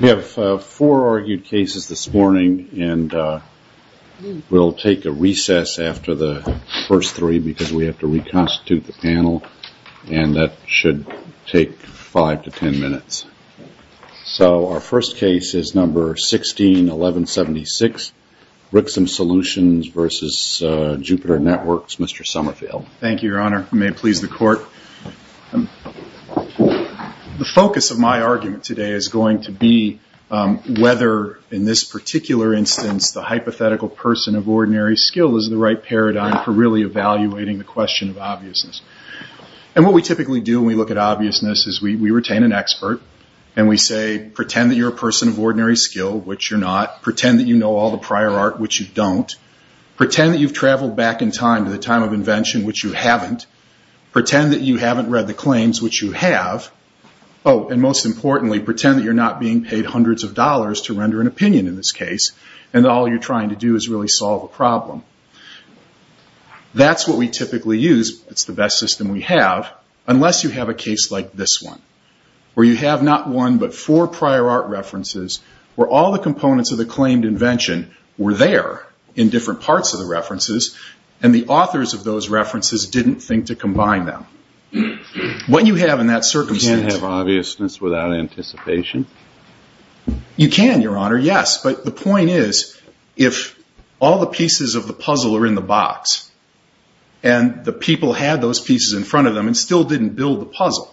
We have four argued cases this morning and we'll take a recess after the first three because we have to reconstitute the panel and that should take five to ten minutes. So our first case is number 161176, Brixham Solutions v. Jupiter Networks, Mr. Summerfield. Thank you, Your Honor. You may please the court. The focus of my argument today is going to be whether in this particular instance the hypothetical person of ordinary skill is the right paradigm for really evaluating the question of obviousness. And what we typically do when we look at obviousness is we retain an expert and we say, pretend that you're a person of ordinary skill, which you're not. Pretend that you know all the prior art, which you don't. Pretend that you've traveled back in time to the time of invention, which you haven't. Pretend that you haven't read the claims, which you have. And most importantly, pretend that you're not being paid hundreds of dollars to render an opinion in this case and all you're trying to do is really solve a problem. That's what we typically use. It's the best system we have, unless you have a case like this one, where you have not one but four prior art references where all the components of the claimed invention were there in different parts of the references and the authors of those references didn't think to combine them. What you have in that circumstance... You can't have obviousness without anticipation. You can, your honor, yes. But the point is, if all the pieces of the puzzle are in the box and the people had those pieces in front of them and still didn't build the puzzle,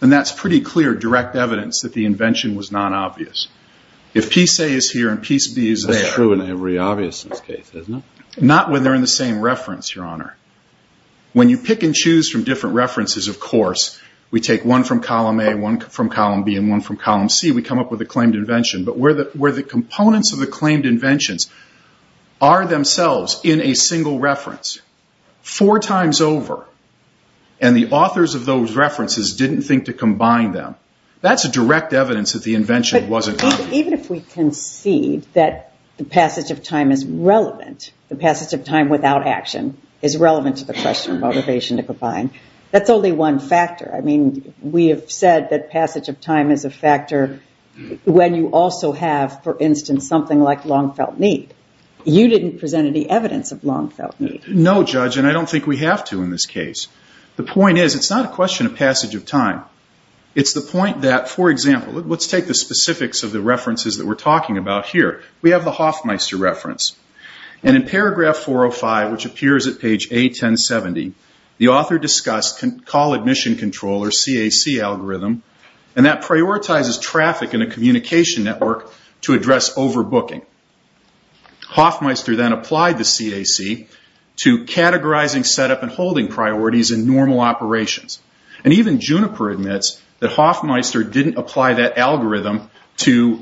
then that's pretty clear direct evidence that the invention was non-obvious. If piece A is here and piece B is there... Not when they're in the same reference, your honor. When you pick and choose from different references, of course, we take one from column A, one from column B, and one from column C, we come up with a claimed invention. But where the components of the claimed inventions are themselves in a single reference, four times over, and the authors of those references didn't think to combine them, that's a direct evidence that the invention wasn't obvious. Even if we concede that the passage of time is relevant, the passage of time without action is relevant to the question of motivation to combine, that's only one factor. We have said that passage of time is a factor when you also have, for instance, something like long felt need. You didn't present any evidence of long felt need. No, judge, and I don't think we have to in this case. The point is, it's not a question of passage of time. It's the point that, for example, let's take the specifics of the references that we're talking about here. We have the Hoffmeister reference, and in paragraph 405, which appears at page A1070, the author discussed call admission control, or CAC algorithm, and that prioritizes traffic in a communication network to address overbooking. Hoffmeister then applied the CAC to categorizing setup and holding priorities in normal operations. Even Juniper admits that Hoffmeister didn't apply that algorithm to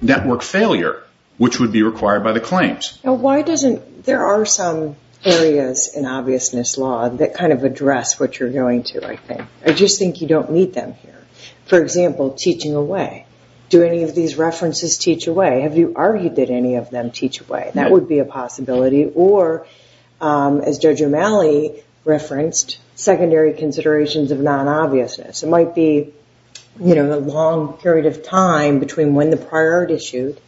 network failure, which would be required by the claims. There are some areas in obviousness law that kind of address what you're going to, I think. I just think you don't meet them here. For example, teaching away. Do any of these references teach away? Have you argued that any of them teach away? That would be a possibility. Or, as Judge O'Malley referenced, secondary considerations of non-obviousness. It might be a long period of time between when the prior art issued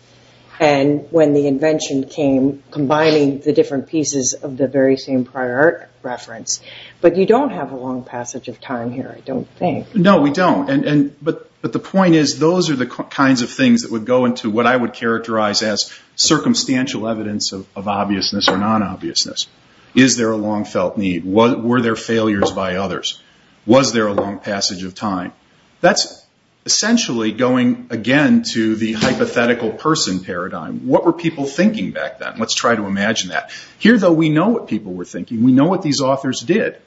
and when the invention came, combining the different pieces of the very same prior art reference, but you don't have a long passage of time here, I don't think. No, we don't. The point is, those are the kinds of things that would go into what I would characterize as circumstantial evidence of obviousness or non-obviousness. Is there a long-felt need? Were there failures by others? Was there a long passage of time? That's essentially going, again, to the hypothetical person paradigm. What were people thinking back then? Let's try to imagine that. Here though, we know what people were thinking. We know what these authors did.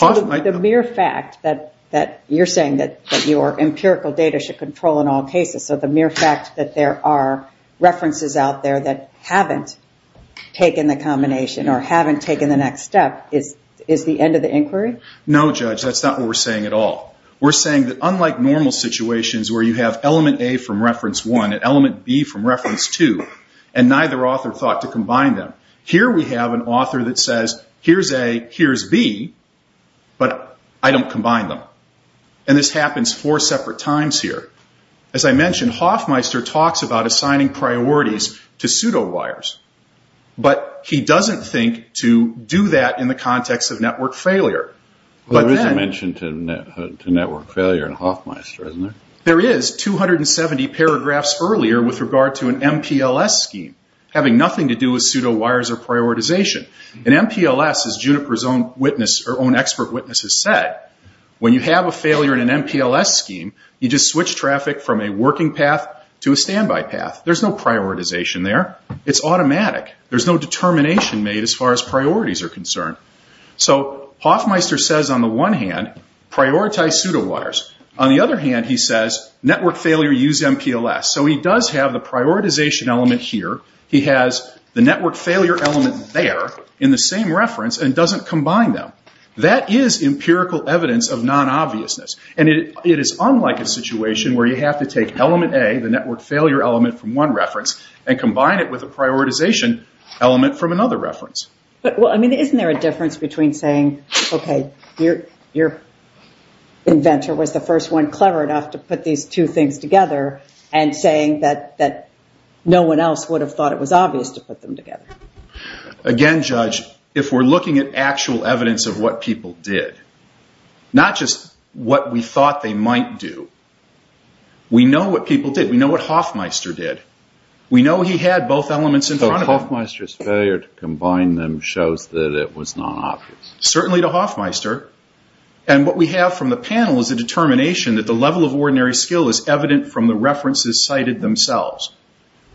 The mere fact that you're saying that your empirical data should control in all cases, so the mere fact that there are references out there that haven't taken the combination or haven't taken the next step, is the end of the inquiry? No, Judge, that's not what we're saying at all. We're saying that unlike normal situations where you have element A from reference one and element B from reference two, and neither author thought to combine them, here we have an author that says, here's A, here's B, but I don't combine them. This happens four separate times here. As I mentioned, Hofmeister talks about assigning priorities to pseudo-wires, but he doesn't think to do that in the context of network failure. There is a mention to network failure in Hofmeister, isn't there? There is. 270 paragraphs earlier with regard to an MPLS scheme having nothing to do with pseudo-wires or prioritization. An MPLS, as Juniper's own expert witnesses said, when you have a failure in an MPLS scheme, you just switch traffic from a working path to a standby path. There's no prioritization there. It's automatic. There's no determination made as far as priorities are concerned. Hofmeister says on the one hand, prioritize pseudo-wires. On the other hand, he says, network failure, use MPLS. He does have the prioritization element here. He has the network failure element there in the same reference and doesn't combine them. That is empirical evidence of non-obviousness. It is unlike a situation where you have to take element A, the network failure element from one reference, and combine it with a prioritization element from another reference. Isn't there a difference between saying, okay, your inventor was the first one clever enough to put these two things together and saying that no one else would have thought it was obvious to put them together? Again, Judge, if we're looking at actual evidence of what people did, not just what we thought they might do, we know what people did. We know what Hofmeister did. We know he had both elements in front of him. So Hofmeister's failure to combine them shows that it was non-obvious? Certainly to Hofmeister. And what we have from the panel is a determination that the level of ordinary skill is evident from the references cited themselves.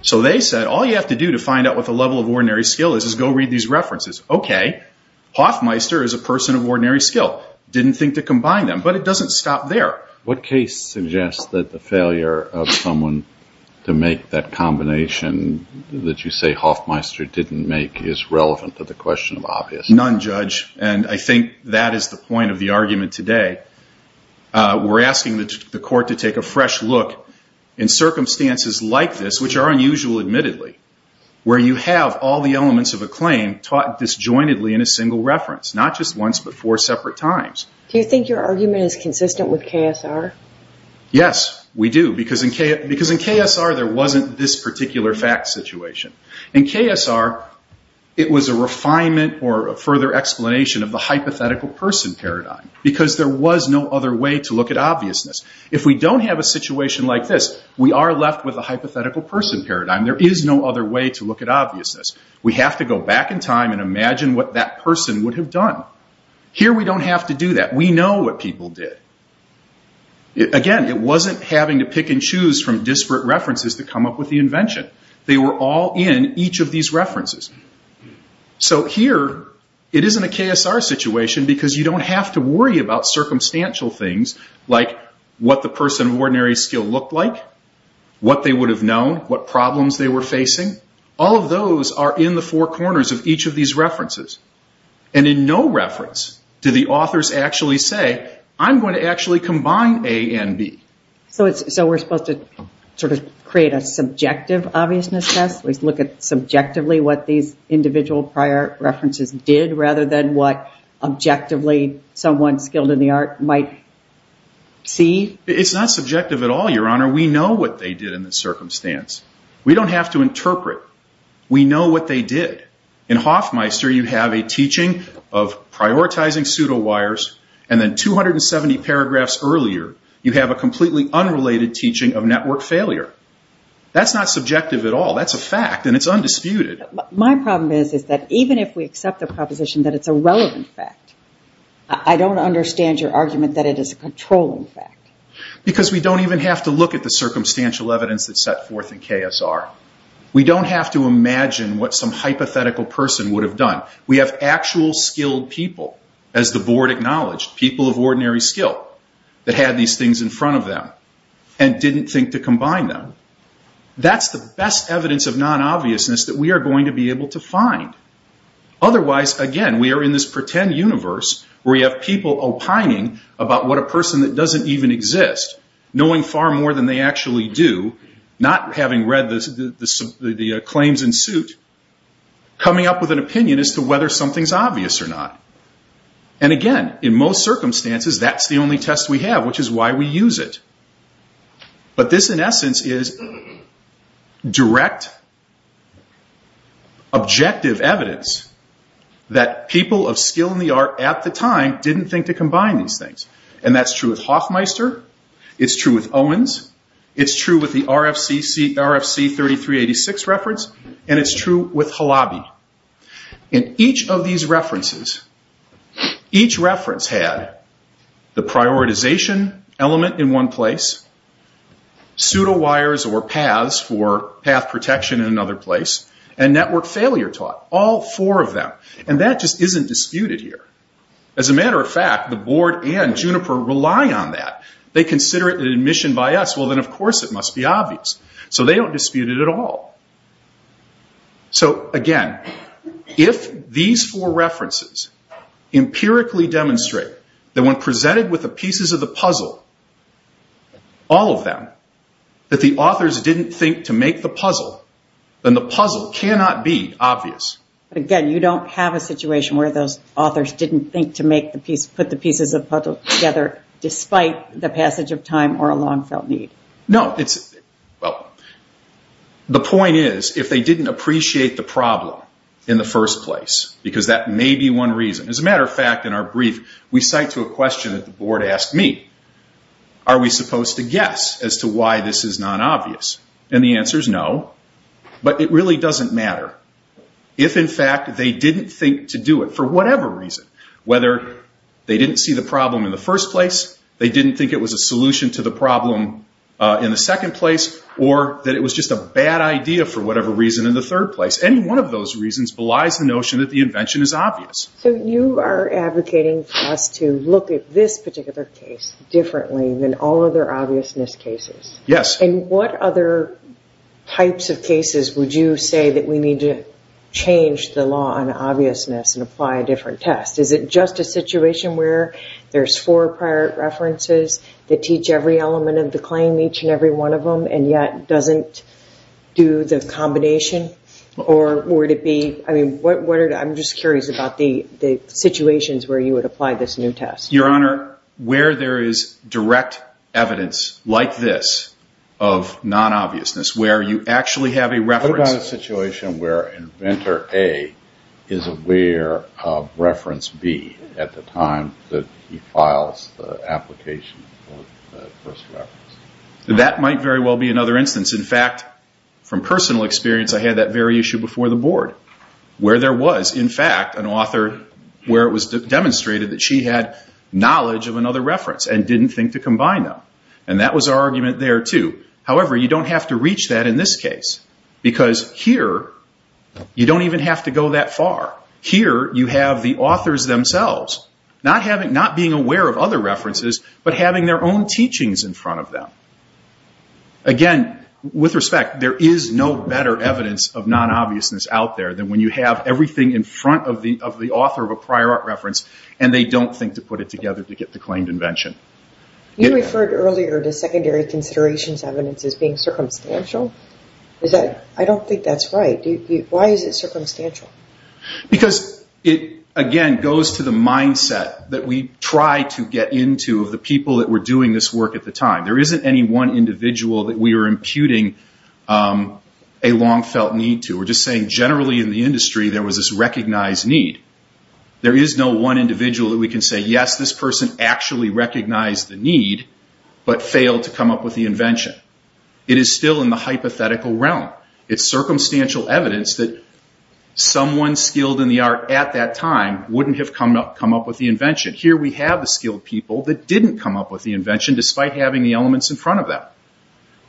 So they said, all you have to do to find out what the level of ordinary skill is is go read these references. Okay, Hofmeister is a person of ordinary skill. Didn't think to combine them. But it doesn't stop there. What case suggests that the failure of someone to make that combination that you say Hofmeister didn't make is relevant to the question of obviousness? None, Judge. And I think that is the point of the argument today. We're asking the court to take a fresh look in circumstances like this, which are unusual admittedly, where you have all the elements of a claim taught disjointedly in a single reference, not just once, but four separate times. Do you think your argument is consistent with KSR? Yes, we do. Because in KSR, there wasn't this particular fact situation. In KSR, it was a refinement or a further explanation of the hypothetical person paradigm. Because there was no other way to look at obviousness. If we don't have a situation like this, we are left with a hypothetical person paradigm. There is no other way to look at obviousness. We have to go back in time and imagine what that person would have done. Here we don't have to do that. We know what people did. Again, it wasn't having to pick and choose from disparate references to come up with the invention. They were all in each of these references. Here, it isn't a KSR situation because you don't have to worry about circumstantial things like what the person of ordinary skill looked like, what they would have known, what problems they were facing. All of those are in the four corners of each of these references. In no reference do the authors actually say, I'm going to actually combine A and B. We're supposed to create a subjective obviousness test. We look at subjectively what these individual prior references did rather than what objectively someone skilled in the art might see. It's not subjective at all, Your Honor. We know what they did in the circumstance. We don't have to interpret. We know what they did. In Hofmeister, you have a teaching of prioritizing pseudo-wires and then 270 paragraphs earlier you have a completely unrelated teaching of network failure. That's not subjective at all. That's a fact and it's undisputed. My problem is that even if we accept the proposition that it's a relevant fact, I don't understand your argument that it is a controlling fact. Because we don't even have to look at the circumstantial evidence that's set forth in KSR. We don't have to imagine what some hypothetical person would have done. We have actual skilled people, as the Board acknowledged, people of ordinary skill that had these things in front of them and didn't think to combine them. That's the best evidence of non-obviousness that we are going to be able to find. Otherwise, again, we are in this pretend universe where you have people opining about what a person that doesn't even exist, knowing far more than they actually do, not having read the claims in suit, coming up with an opinion as to whether something's obvious or not. Again, in most circumstances, that's the only test we have, which is why we use it. But this, in essence, is direct, objective evidence that people of skill and the art at the time didn't think to combine these things. That's true with Hoffmeister. It's true with Owens. It's true with the RFC 3386 reference. It's true with Halabi. In each of these references, each reference had the prioritization element in one place, pseudo wires or paths for path protection in another place, and network failure taught. All four of them. That just isn't disputed here. As a matter of fact, the Board and Juniper rely on that. They consider it an admission by us, well then, of course, it must be obvious. They don't dispute it at all. So, again, if these four references empirically demonstrate that when presented with the pieces of the puzzle, all of them, that the authors didn't think to make the puzzle, then the puzzle cannot be obvious. But again, you don't have a situation where those authors didn't think to put the pieces of the puzzle together despite the passage of time or a long-felt need. The point is, if they didn't appreciate the problem in the first place, because that may be one reason. As a matter of fact, in our brief, we cite to a question that the Board asked me. Are we supposed to guess as to why this is not obvious? The answer is no, but it really doesn't matter. If in fact they didn't think to do it, for whatever reason, whether they didn't see the in the second place or that it was just a bad idea for whatever reason in the third place, any one of those reasons belies the notion that the invention is obvious. So you are advocating for us to look at this particular case differently than all other obviousness cases? Yes. And what other types of cases would you say that we need to change the law on obviousness and apply a different test? Is it just a situation where there's four prior references that teach every element of the claim, each and every one of them, and yet doesn't do the combination? Or would it be, I mean, I'm just curious about the situations where you would apply this new test? Your Honor, where there is direct evidence like this of non-obviousness, where you actually have a reference What about a situation where inventor A is aware of reference B at the time that he files the application for the first reference? That might very well be another instance. In fact, from personal experience, I had that very issue before the Board, where there was, in fact, an author where it was demonstrated that she had knowledge of another reference and didn't think to combine them. And that was our argument there, too. However, you don't have to reach that in this case, because here you don't even have to go that far. Here you have the authors themselves, not being aware of other references, but having their own teachings in front of them. Again, with respect, there is no better evidence of non-obviousness out there than when you have everything in front of the author of a prior art reference, and they don't think to put it together to get the claimed invention. You referred earlier to secondary considerations evidence as being circumstantial. I don't think that's right. Why is it circumstantial? Because it, again, goes to the mindset that we try to get into of the people that were doing this work at the time. There isn't any one individual that we are imputing a long-felt need to. We're just saying generally in the industry, there was this recognized need. There is no one individual that we can say, yes, this person actually recognized the need, but failed to come up with the invention. It is still in the hypothetical realm. It's circumstantial evidence that someone skilled in the art at that time wouldn't have come up with the invention. Here we have the skilled people that didn't come up with the invention, despite having the elements in front of them.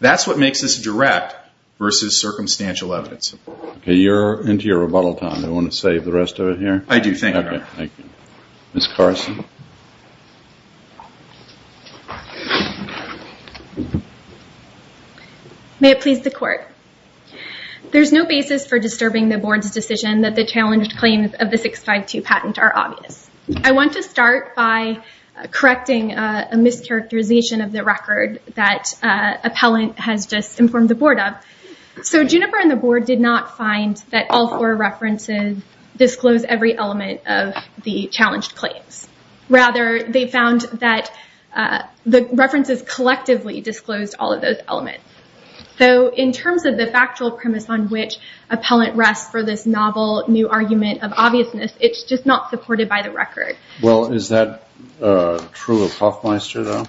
That's what makes this direct versus circumstantial evidence. Okay, you're into your rebuttal time. Do you want to save the rest of it here? I do. Thank you. Okay. Thank you. Ms. Carson? May it please the court. There's no basis for disturbing the board's decision that the challenged claims of the 652 patent are obvious. I want to start by correcting a mischaracterization of the record that appellant has just informed the board of. Juniper and the board did not find that all four references disclose every element of the challenged claims. Rather, they found that the references collectively disclosed all of those elements. In terms of the factual premise on which appellant rests for this novel new argument of obviousness, it's just not supported by the record. Is that true of Hofmeister, though?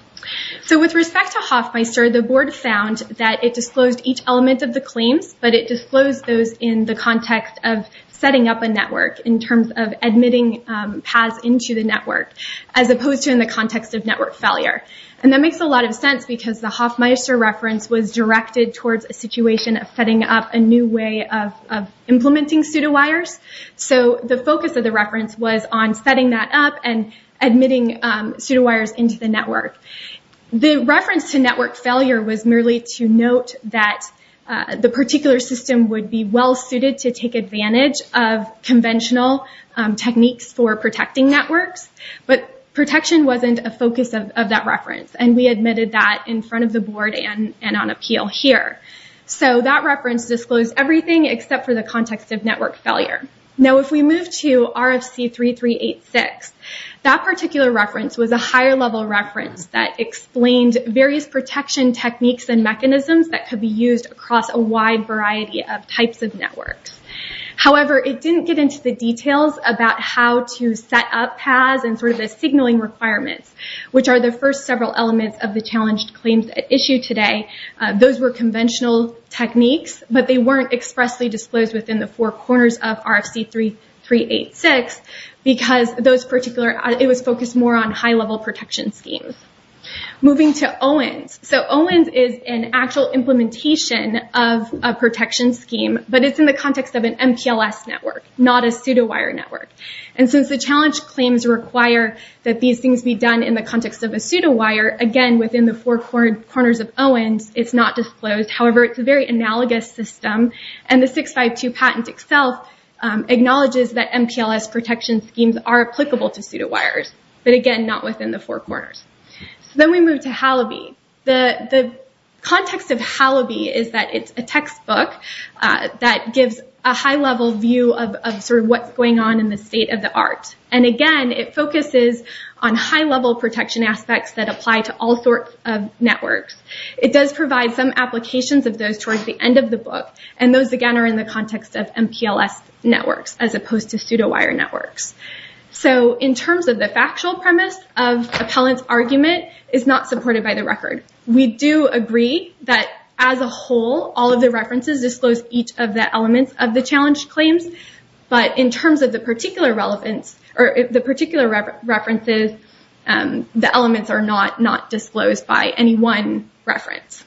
With respect to Hofmeister, the board found that it disclosed each element of the claims, but it disclosed those in the context of setting up a network in terms of admitting paths into the network, as opposed to in the context of network failure. That makes a lot of sense because the Hofmeister reference was directed towards a situation of setting up a new way of implementing pseudowires. The focus of the reference was on setting that up and admitting pseudowires into the network. The reference to network failure was merely to note that the particular system would be well-suited to take advantage of conventional techniques for protecting networks, but protection wasn't a focus of that reference. We admitted that in front of the board and on appeal here. That reference disclosed everything except for the context of network failure. If we move to RFC 3386, that particular reference was a higher level reference that explained various protection techniques and mechanisms that could be used across a wide variety of types of networks. However, it didn't get into the details about how to set up paths and the signaling requirements, which are the first several elements of the challenged claims at issue today. Those were conventional techniques, but they weren't expressly disclosed within the four corners of RFC 3386 because it was focused more on high-level protection schemes. Moving to OWNs, OWNs is an actual implementation of a protection scheme, but it's in the context of an MPLS network, not a pseudowire network. Since the challenged claims require that these things be done in the context of a pseudowire, again, within the four corners of OWNs, it's not disclosed. However, it's a very analogous system, and the 652 patent itself acknowledges that MPLS protection schemes are applicable to pseudowires, but again, not within the four corners. Then we move to HALABI. The context of HALABI is that it's a textbook that gives a high-level view of what's going on in the state of the art. Again, it focuses on high-level protection aspects that apply to all sorts of networks. It does provide some applications of those towards the end of the book, and those, again, are in the context of MPLS networks as opposed to pseudowire networks. In terms of the factual premise of appellant's argument, it's not supported by the record. We do agree that, as a whole, all of the references disclose each of the elements of the challenged claims, but in terms of the particular references, the elements are not disclosed by any one reference.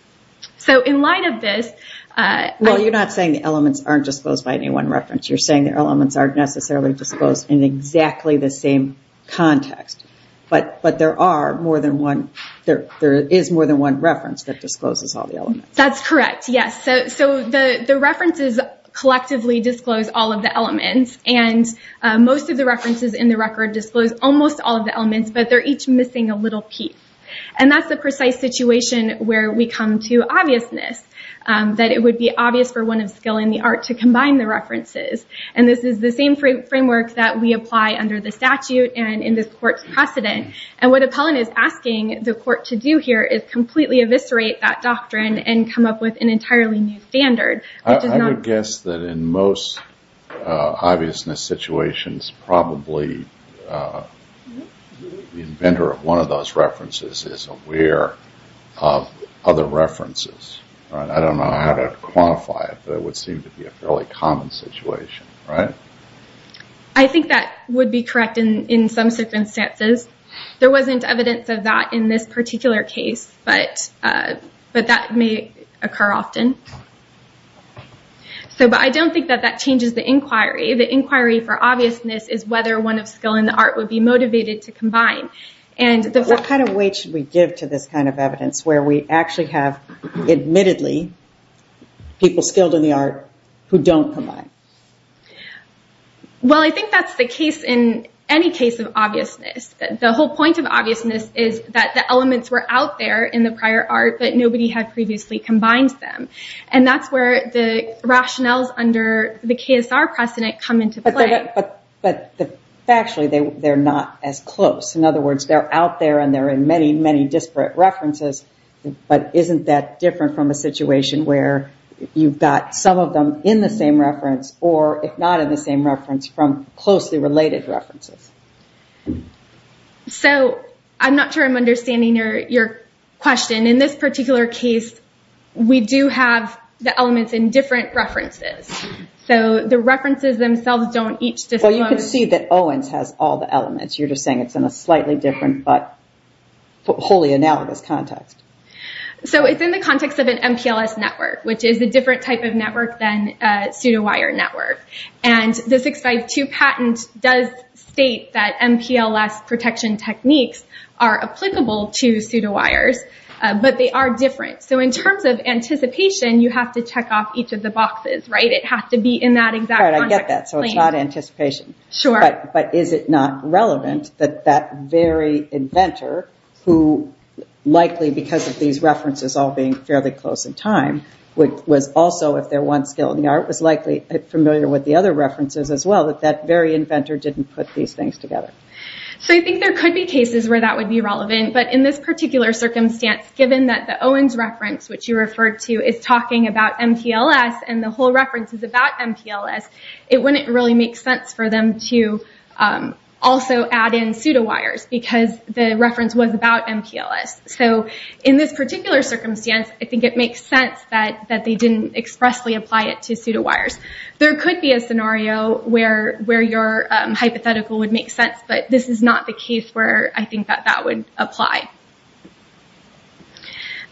In light of this... Well, you're not saying the elements aren't disclosed by any one reference. You're saying the elements aren't necessarily disclosed in exactly the same context, but there is more than one reference that discloses all the elements. That's correct, yes. The references collectively disclose all of the elements, and most of the references in the record disclose almost all of the elements, but they're each missing a little piece. And that's the precise situation where we come to obviousness, that it would be obvious for one of skill in the art to combine the references. And this is the same framework that we apply under the statute and in this court's precedent. And what appellant is asking the court to do here is completely eviscerate that doctrine and come up with an entirely new standard, which is not... I would guess that in most obviousness situations, probably the inventor of one of those references is aware of other references. I don't know how to quantify it, but it would seem to be a fairly common situation, right? I think that would be correct in some circumstances. There wasn't evidence of that in this particular case, but that may occur often. But I don't think that that changes the inquiry. The inquiry for obviousness is whether one of skill in the art would be motivated to combine. What kind of weight should we give to this kind of evidence where we actually have admittedly people skilled in the art who don't combine? Well, I think that's the case in any case of obviousness. The whole point of obviousness is that the elements were out there in the prior art, but nobody had previously combined them. And that's where the rationales under the KSR precedent come into play. But factually, they're not as close. In other words, they're out there and they're in many, many disparate references, but isn't that different from a situation where you've got some of them in the same reference or if not in the same reference, from closely related references? I'm not sure I'm understanding your question. In this particular case, we do have the elements in different references. The references themselves don't each disclose... Well, you can see that Owens has all the elements. You're just saying it's in a slightly different but wholly analogous context. So it's in the context of an MPLS network, which is a different type of network than a pseudo-wire network. And the 652 patent does state that MPLS protection techniques are applicable to pseudo-wires, but they are different. So in terms of anticipation, you have to check off each of the boxes, right? It has to be in that exact context. All right, I get that. So it's not anticipation. Sure. But is it not relevant that that very inventor, who likely, because of these references all being fairly close in time, was also, if they're one skill in the art, was likely familiar with the other references as well, that that very inventor didn't put these things together? So I think there could be cases where that would be relevant. But in this particular circumstance, given that the Owens reference, which you referred to, is talking about MPLS and the whole reference is about MPLS, it wouldn't really make sense for them to also add in pseudo-wires, because the reference was about MPLS. So in this particular circumstance, I think it makes sense that they didn't expressly apply it to pseudo-wires. There could be a scenario where your hypothetical would make sense, but this is not the case where I think that that would apply.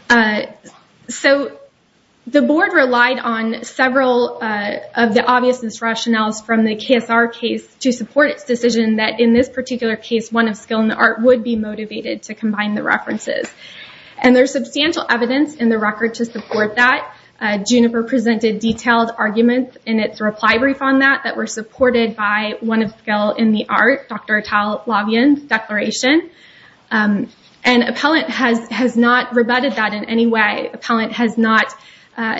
Okay. So the board relied on several of the obviousness rationales from the KSR case to support its decision that, in this particular case, one of skill in the art would be motivated to combine the references. And there's substantial evidence in the record to support that. Juniper presented detailed arguments in its reply brief on that, that were supported by one of skill in the art, Dr. Tal Lavien's declaration. And appellant has not rebutted that in any way. Appellant has not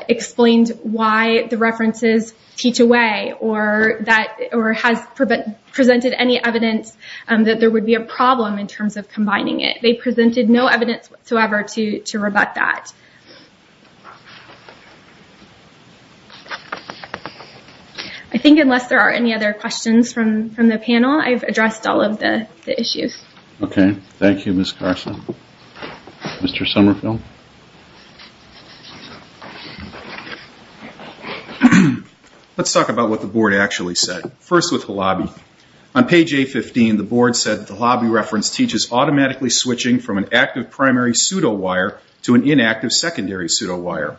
explained why the references teach away or has presented any evidence that there would be a problem in terms of combining it. They presented no evidence whatsoever to rebut that. I think unless there are any other questions from the panel, I've addressed all of the issues. Okay. Thank you, Ms. Carson. Mr. Somerville. Let's talk about what the board actually said. First with the lobby. On page A15, the board said that the lobby reference teaches automatically switching from an active primary pseudo-wire to an inactive secondary pseudo-wire.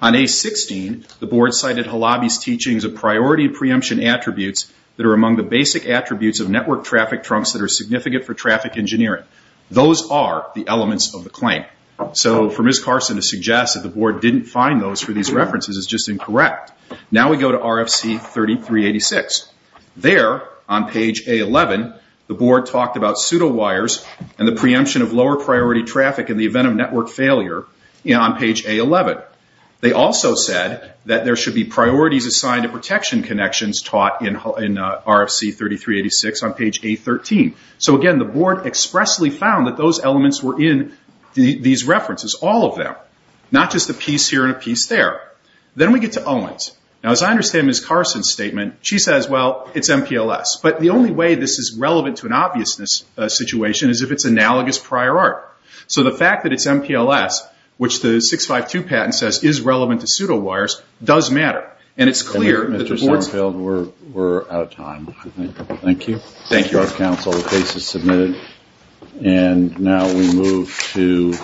On A16, the board cited the lobby's teachings of priority preemption attributes that are among the basic attributes of network traffic trunks that are significant for traffic engineering. Those are the elements of the claim. So for Ms. Carson to suggest that the board didn't find those for these references is just incorrect. Now we go to RFC 3386. There, on page A11, the board talked about pseudo-wires and the preemption of lower priority traffic in the event of network failure on page A11. They also said that there should be priorities assigned to protection connections taught in RFC 3386 on page A13. So again, the board expressly found that those elements were in these references, all of them, not just a piece here and a piece there. Then we get to Owens. Now as I understand Ms. Carson's statement, she says, well, it's MPLS. But the only way this is relevant to an obviousness situation is if it's analogous prior art. So the fact that it's MPLS, which the 652 patent says is relevant to pseudo-wires, does matter. And it's clear that the board's... Mr. Sarnfield, we're out of time. Thank you. Thank you. Thank you, our counsel. The case is submitted. And now we move to...